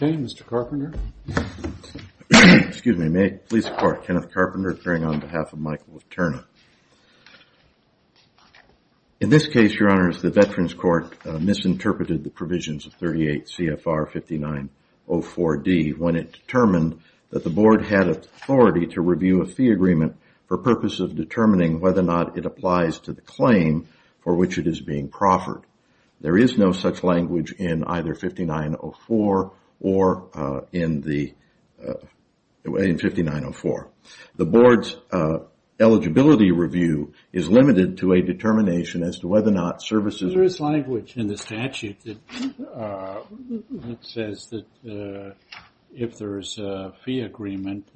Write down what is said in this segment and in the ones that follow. Mr. Carpenter, may I please report Kenneth Carpenter appearing on behalf of Michael Viterna. In this case, your honors, the Veterans Court misinterpreted the provisions of 38 CFR 5904D when it determined that the board had authority to review a fee agreement for purposes of determining whether or not it applies to the claim for which it is being proffered. There is no such language in either 5904 or in 5904. The board's eligibility review is limited to a determination as to whether or not services... In the statute, it says that if there is a fee agreement,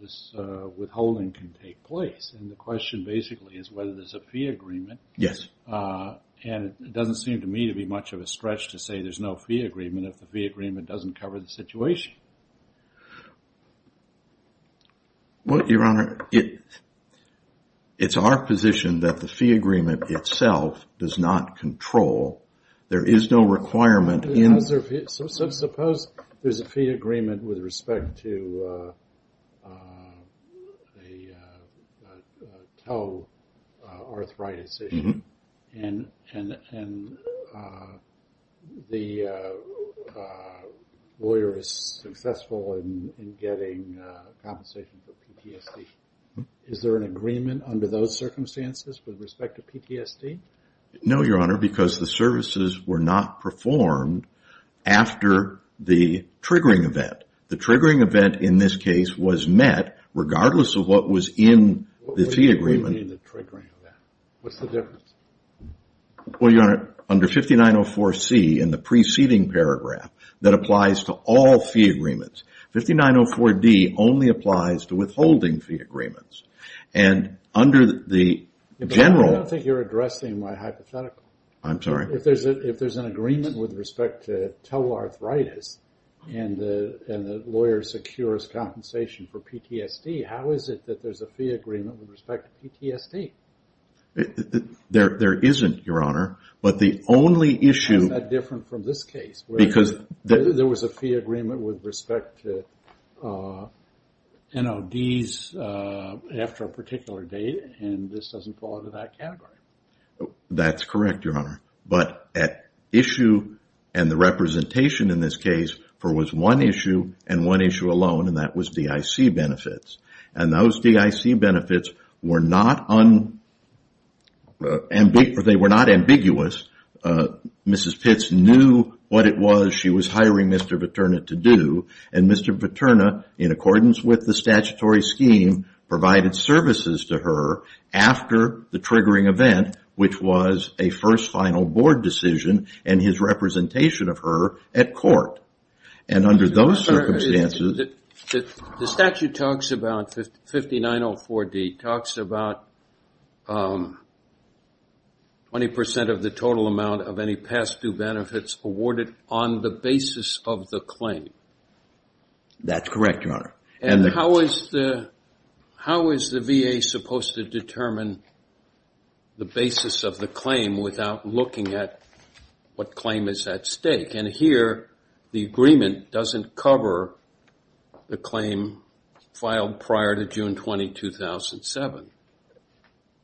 this withholding can take place. And the question basically is whether there is a fee agreement. And it doesn't seem to me to be much of a stretch to say there is no fee agreement if the fee agreement doesn't cover the situation. Well, your honor, it's our position that the fee agreement itself does not control. There is no requirement in... Suppose there is a fee agreement with respect to a tell arthritis issue and the lawyer is successful in getting compensation for PTSD. Is there an agreement under those circumstances with respect to PTSD? No, your honor, because the services were not performed after the triggering event. The triggering event in this case was met regardless of what was in the fee agreement. What do you mean the triggering event? What's the difference? Well, your honor, under 5904C in the preceding paragraph, that applies to all fee agreements. 5904D only applies to withholding fee agreements. And under the general... I don't think you're addressing my hypothetical. I'm sorry? If there's an agreement with respect to tell arthritis and the lawyer secures compensation for PTSD, how is it that there's a fee agreement with respect to PTSD? There isn't, your honor, but the only issue... How is that different from this case? Because... There was a fee agreement with respect to NLDs after a particular date and this doesn't fall into that category. That's correct, your honor, but at issue and the representation in this case, there was one issue and one issue alone and that was DIC benefits. And those DIC benefits were not ambiguous. Mrs. Pitts knew what it was she was hiring Mr. Viterna to do and Mr. Viterna, in accordance with the statutory scheme, provided services to her after the triggering event, which was a first final board decision and his representation of her at court. And under those circumstances... 5904D talks about 20% of the total amount of any past due benefits awarded on the basis of the claim. That's correct, your honor. And how is the VA supposed to determine the basis of the claim without looking at what claim is at stake? And here, the agreement doesn't cover the claim filed prior to June 20, 2007.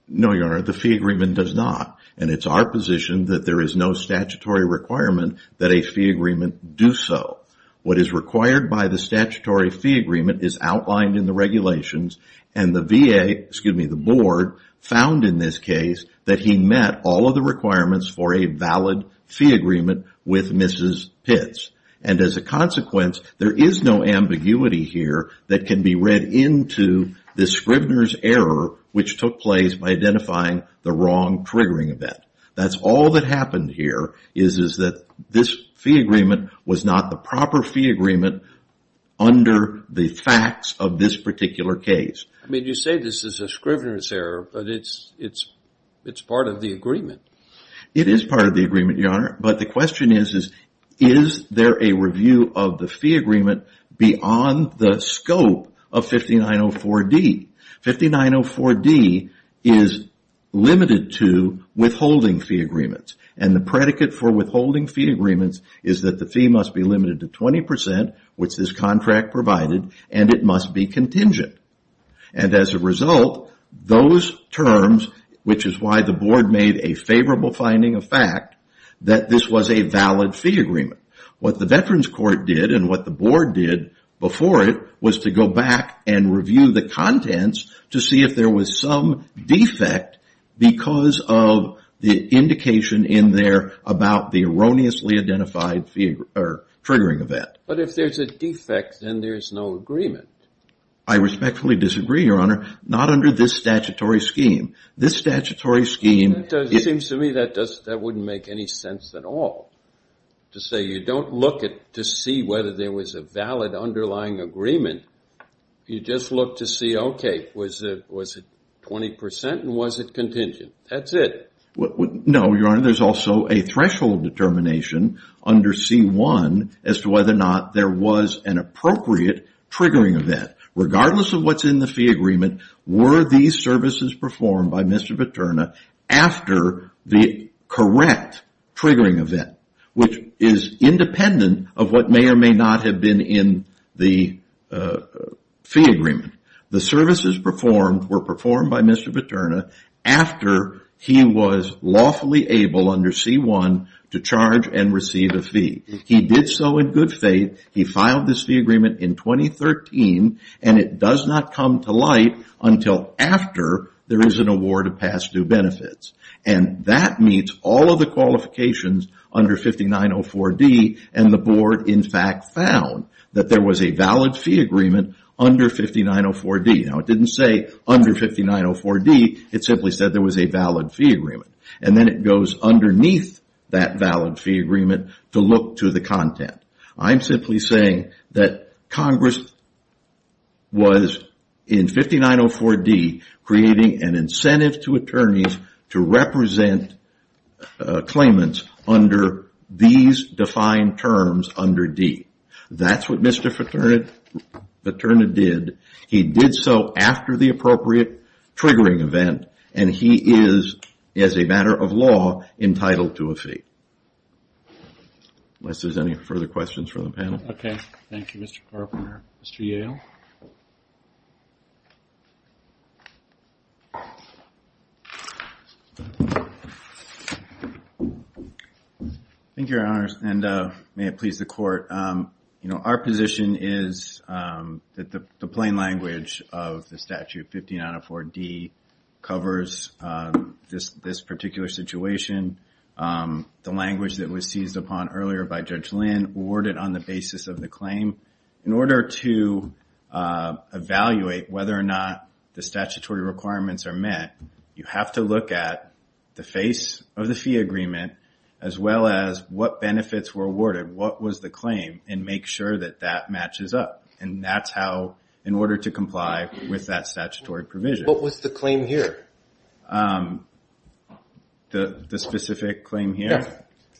No, your honor, the fee agreement does not. And it's our position that there is no statutory requirement that a fee agreement do so. What is required by the statutory fee agreement is outlined in the regulations and the VA, excuse me, the board found in this case that he met all of the requirements for a valid fee agreement with Mrs. Pitts. And as a consequence, there is no ambiguity here that can be read into the Scrivner's error, which took place by identifying the wrong triggering event. That's all that happened here is that this fee agreement was not the proper fee agreement under the facts of this particular case. I mean, you say this is a Scrivner's error, but it's part of the agreement. It is part of the agreement, your honor, but the question is, is there a review of the fee agreement beyond the scope of 5904D? 5904D is limited to withholding fee agreements. And the predicate for withholding fee agreements is that the fee must be limited to 20%, which this contract provided, and it must be contingent. And as a result, those terms, which is why the board made a favorable finding of fact, that this was a valid fee agreement. What the Veterans Court did and what the board did before it was to go back and review the contents to see if there was some defect because of the indication in there about the erroneously identified triggering event. But if there's a defect, then there's no agreement. I respectfully disagree, your honor. Not under this statutory scheme. This statutory scheme... It seems to me that that wouldn't make any sense at all to say you don't look to see whether there was a valid underlying agreement. You just look to see, okay, was it 20% and was it contingent? That's it. No, your honor. There's also a threshold determination under C-1 as to whether or not there was an appropriate triggering event. Regardless of what's in the fee agreement, were these services performed by Mr. Paterna after the correct triggering event, which is independent of what may or may not have been in the fee agreement? The services performed were performed by Mr. Paterna after he was lawfully able under C-1 to charge and receive a fee. He did so in good faith. He filed this fee agreement in 2013. It does not come to light until after there is an award of past due benefits. That meets all of the qualifications under 5904D. The board, in fact, found that there was a valid fee agreement under 5904D. It didn't say under 5904D. It simply said there was a valid fee agreement. Then it goes underneath that valid fee agreement to look to the content. I'm simply saying that Congress was, in 5904D, creating an incentive to attorneys to represent claimants under these defined terms under D. That's what Mr. Paterna did. He did so after the appropriate triggering event. He is, as a matter of law, entitled to a fee. Unless there's any further questions from the panel. Okay. Thank you, Mr. Carpenter. Mr. Yale. Thank you, Your Honors, and may it please the Court. Our position is that the plain language of the statute, 5904D, covers this particular situation. The language that was seized upon earlier by Judge Lynn, awarded on the basis of the claim. In order to evaluate whether or not the statutory requirements are met, you have to look at the face of the fee agreement, as well as what benefits were awarded, what was the claim, and make sure that that matches up. That's how, in order to comply with that statutory provision. What was the claim here? The specific claim here?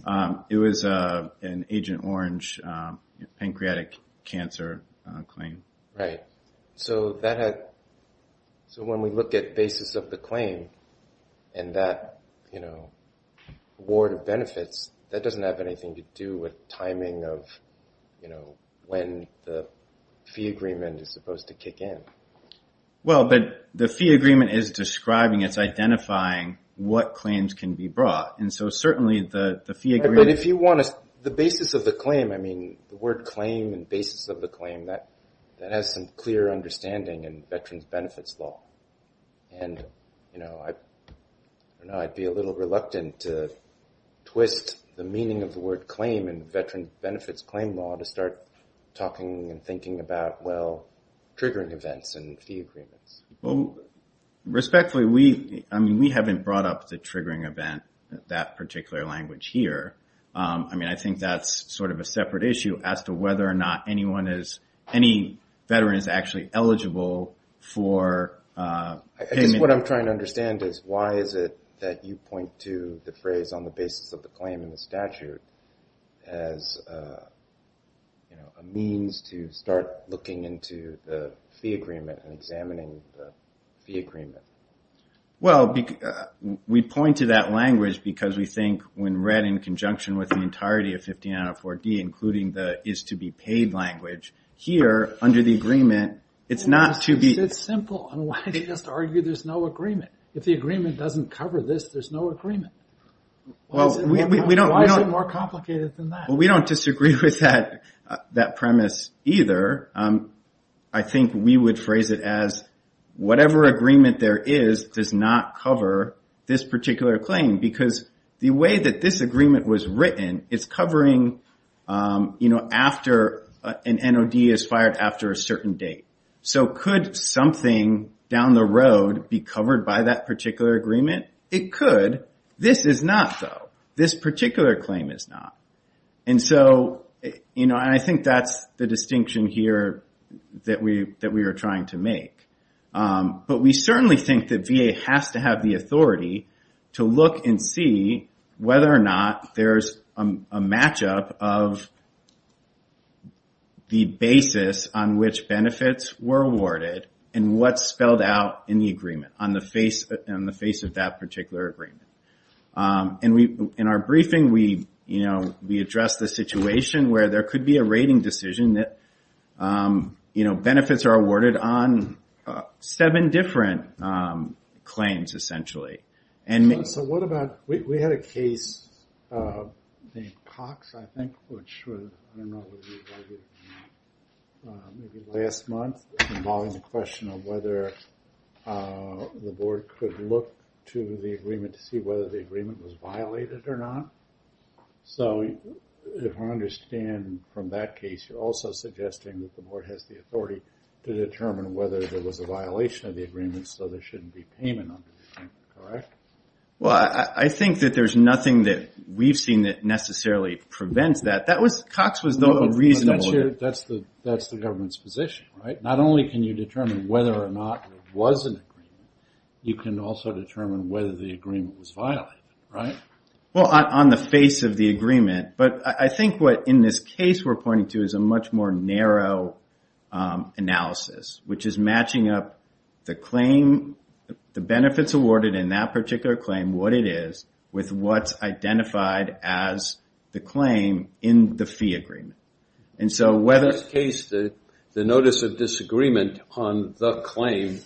Yes. It was an Agent Orange pancreatic cancer claim. Right. So when we look at basis of the claim and that award of benefits, that doesn't have anything to do with timing of when the fee agreement is supposed to kick in. Well, but the fee agreement is describing, it's identifying what claims can be brought. And so certainly the fee agreement. But if you want to, the basis of the claim, I mean, the word claim and basis of the claim, that has some clear understanding in Veterans Benefits Law. And, you know, I'd be a little reluctant to twist the meaning of the word claim Well, respectfully, we haven't brought up the triggering event, that particular language here. I mean, I think that's sort of a separate issue as to whether or not anyone is, any veteran is actually eligible for payment. I guess what I'm trying to understand is why is it that you point to the phrase on the basis of the claim in the statute as, you know, a means to start looking into the fee agreement and examining the fee agreement? Well, we point to that language because we think when read in conjunction with the entirety of 5904D, including the is to be paid language, here under the agreement, it's not to be. It's simple. And why do you just argue there's no agreement? If the agreement doesn't cover this, there's no agreement. Well, we don't. Why is it more complicated than that? Well, we don't disagree with that premise either. I think we would phrase it as whatever agreement there is does not cover this particular claim because the way that this agreement was written, it's covering, you know, after an NOD is fired after a certain date. So could something down the road be covered by that particular agreement? It could. This is not, though. This particular claim is not. And so, you know, I think that's the distinction here that we are trying to make. But we certainly think that VA has to have the authority to look and see whether or not there's a matchup of the basis on which benefits were awarded and what's spelled out in the agreement on the face of that particular agreement. And in our briefing, we address the situation where there could be a rating decision that benefits are awarded on seven different claims, essentially. So what about we had a case, Cox, I think, which was, I don't know, maybe last month involving the question of whether the board could look to the board to see whether the agreement was violated or not. So if I understand from that case, you're also suggesting that the board has the authority to determine whether there was a violation of the agreement, so there shouldn't be payment under the agreement, correct? Well, I think that there's nothing that we've seen that necessarily prevents that. Cox was reasonable. That's the government's position, right? Not only can you determine whether or not there was an agreement, you can also determine whether the agreement was violated, right? Well, on the face of the agreement, but I think what in this case we're pointing to is a much more narrow analysis, which is matching up the claim, the benefits awarded in that particular claim, what it is with what's identified as the claim in the fee agreement. In this case, the notice of disagreement on the claim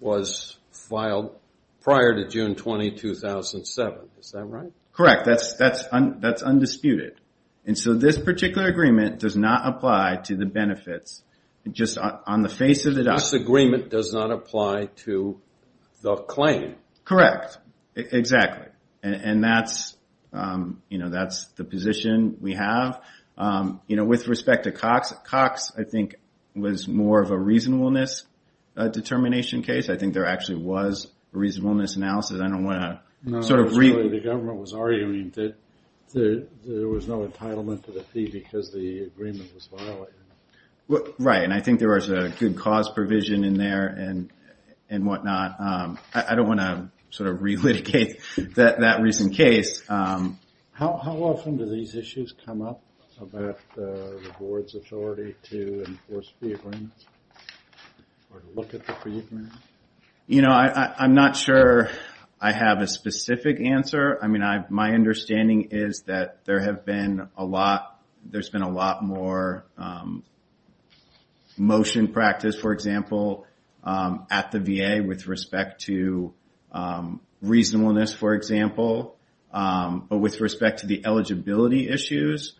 was filed prior to June 20, 2007. Is that right? Correct. That's undisputed. And so this particular agreement does not apply to the benefits, just on the face of the document. The disagreement does not apply to the claim. Correct. Exactly. And that's the position we have. You know, with respect to Cox, Cox I think was more of a reasonableness determination case. I think there actually was a reasonableness analysis. I don't want to sort of re- No, that's what the government was arguing, that there was no entitlement to the fee because the agreement was violated. Right, and I think there was a good cause provision in there and whatnot. I don't want to sort of re-litigate that recent case. How often do these issues come up about the board's authority to enforce fee agreements or to look at the fee agreements? You know, I'm not sure I have a specific answer. I mean, my understanding is that there have been a lot, there's been a lot more motion practice, for example, at the VA with respect to reasonableness, for example, or with respect to the eligibility issues.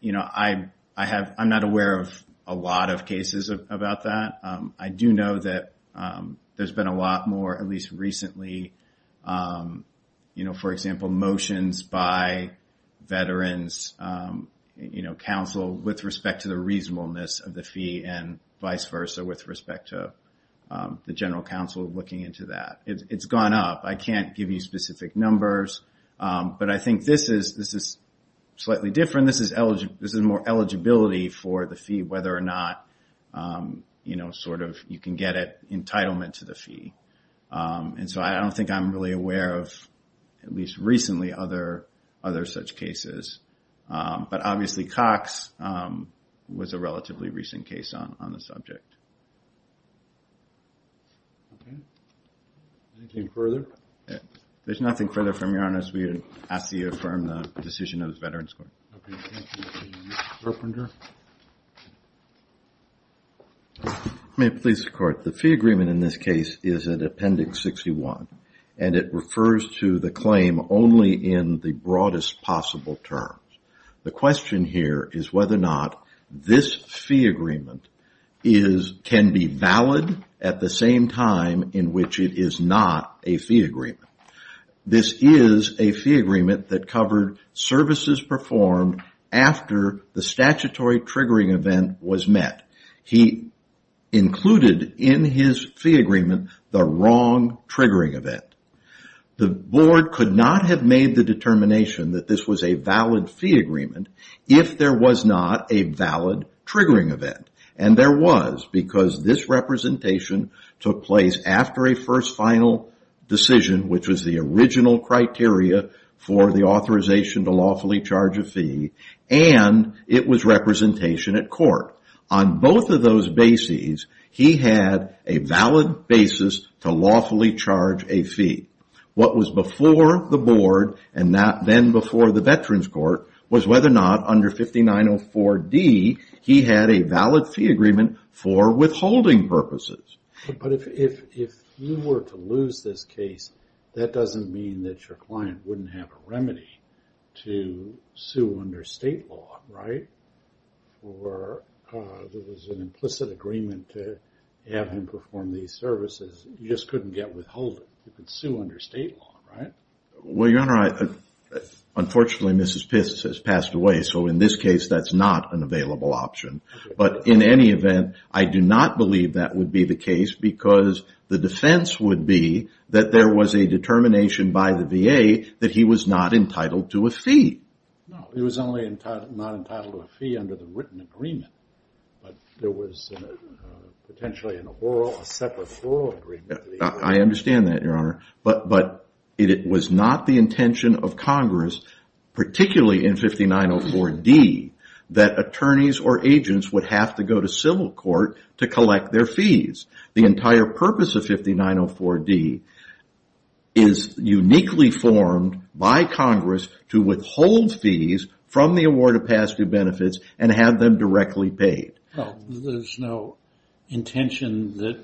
You know, I'm not aware of a lot of cases about that. I do know that there's been a lot more, at least recently, you know, counsel with respect to the reasonableness of the fee and vice versa with respect to the general counsel looking into that. It's gone up. I can't give you specific numbers, but I think this is slightly different. This is more eligibility for the fee, whether or not, you know, sort of you can get entitlement to the fee. And so I don't think I'm really aware of, at least recently, other such cases. But obviously Cox was a relatively recent case on the subject. Okay. Anything further? There's nothing further from Your Honor, as we ask that you affirm the decision of the Veterans Court. Okay, thank you. Mr. Carpenter? May it please the Court? The fee agreement in this case is in Appendix 61, and it refers to the claim only in the broadest possible terms. The question here is whether or not this fee agreement can be valid at the same time in which it is not a fee agreement. This is a fee agreement that covered services performed after the statutory triggering event was met. He included in his fee agreement the wrong triggering event. The Board could not have made the determination that this was a valid fee agreement if there was not a valid triggering event. And there was, because this representation took place after a first final decision, which was the original criteria for the authorization to lawfully charge a fee, and it was representation at court. On both of those bases, he had a valid basis to lawfully charge a fee. What was before the Board, and then before the Veterans Court, was whether or not under 5904D he had a valid fee agreement for withholding purposes. But if you were to lose this case, that doesn't mean that your client wouldn't have a remedy to sue under state law, right? Or there was an implicit agreement to have him perform these services, you just couldn't get withholding. You could sue under state law, right? Well, Your Honor, unfortunately Mrs. Pitts has passed away, so in this case that's not an available option. But in any event, I do not believe that would be the case, because the defense would be that there was a determination by the VA that he was not entitled to a fee. No, he was only not entitled to a fee under the written agreement. But there was potentially a separate oral agreement. I understand that, Your Honor. But it was not the intention of Congress, particularly in 5904D, that attorneys or agents would have to go to civil court to collect their fees. The entire purpose of 5904D is uniquely formed by Congress to withhold fees from the award of past due benefits and have them directly paid. Well, there's no intention that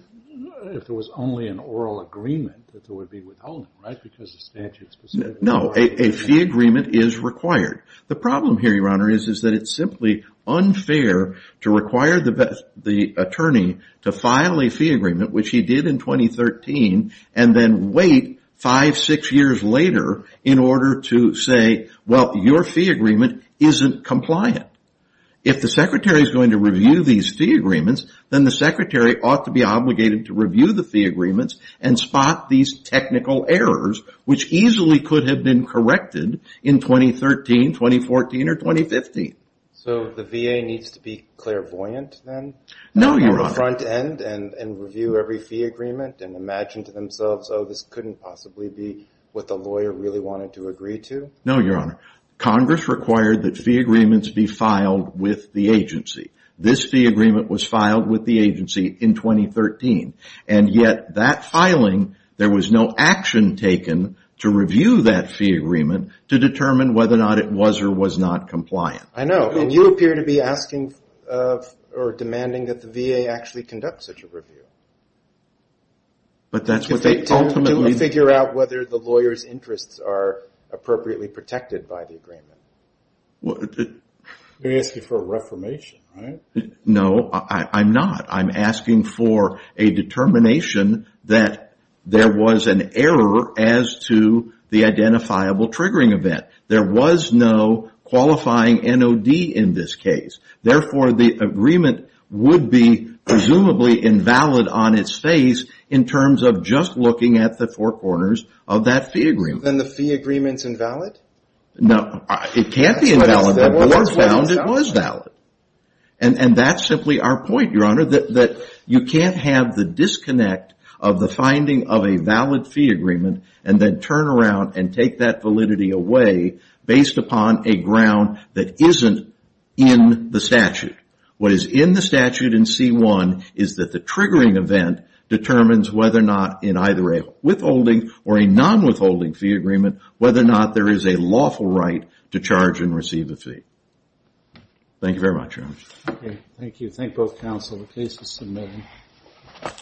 if there was only an oral agreement that there would be withholding, right? Because the statute specifically requires it. No, a fee agreement is required. The problem here, Your Honor, is that it's simply unfair to require the attorney to file a fee agreement, which he did in 2013, and then wait five, six years later in order to say, well, your fee agreement isn't compliant. If the secretary is going to review these fee agreements, then the secretary ought to be obligated to review the fee agreements and spot these technical errors, which easily could have been corrected in 2013, 2014, or 2015. So the VA needs to be clairvoyant then? No, Your Honor. The front end and review every fee agreement and imagine to themselves, oh, this couldn't possibly be what the lawyer really wanted to agree to? No, Your Honor. Congress required that fee agreements be filed with the agency. This fee agreement was filed with the agency in 2013, and yet that filing there was no action taken to review that fee agreement to determine whether or not it was or was not compliant. I know. And you appear to be asking or demanding that the VA actually conduct such a review. But that's what they ultimately do. To figure out whether the lawyer's interests are appropriately protected by the agreement. You're asking for a reformation, right? No, I'm not. I'm asking for a determination that there was an error as to the identifiable triggering event. There was no qualifying NOD in this case. Therefore, the agreement would be presumably invalid on its face in terms of just looking at the four corners of that fee agreement. Then the fee agreement's invalid? No, it can't be invalid. The board found it was valid. And that's simply our point, Your Honor, that you can't have the disconnect of the finding of a valid fee agreement and then turn around and take that validity away based upon a ground that isn't in the statute. What is in the statute in C-1 is that the triggering event determines whether or not in either a withholding or a non-withholding fee agreement whether or not there is a lawful right to charge and receive a fee. Thank you very much, Your Honor. Thank you. Thank both counsel. The case is submitted.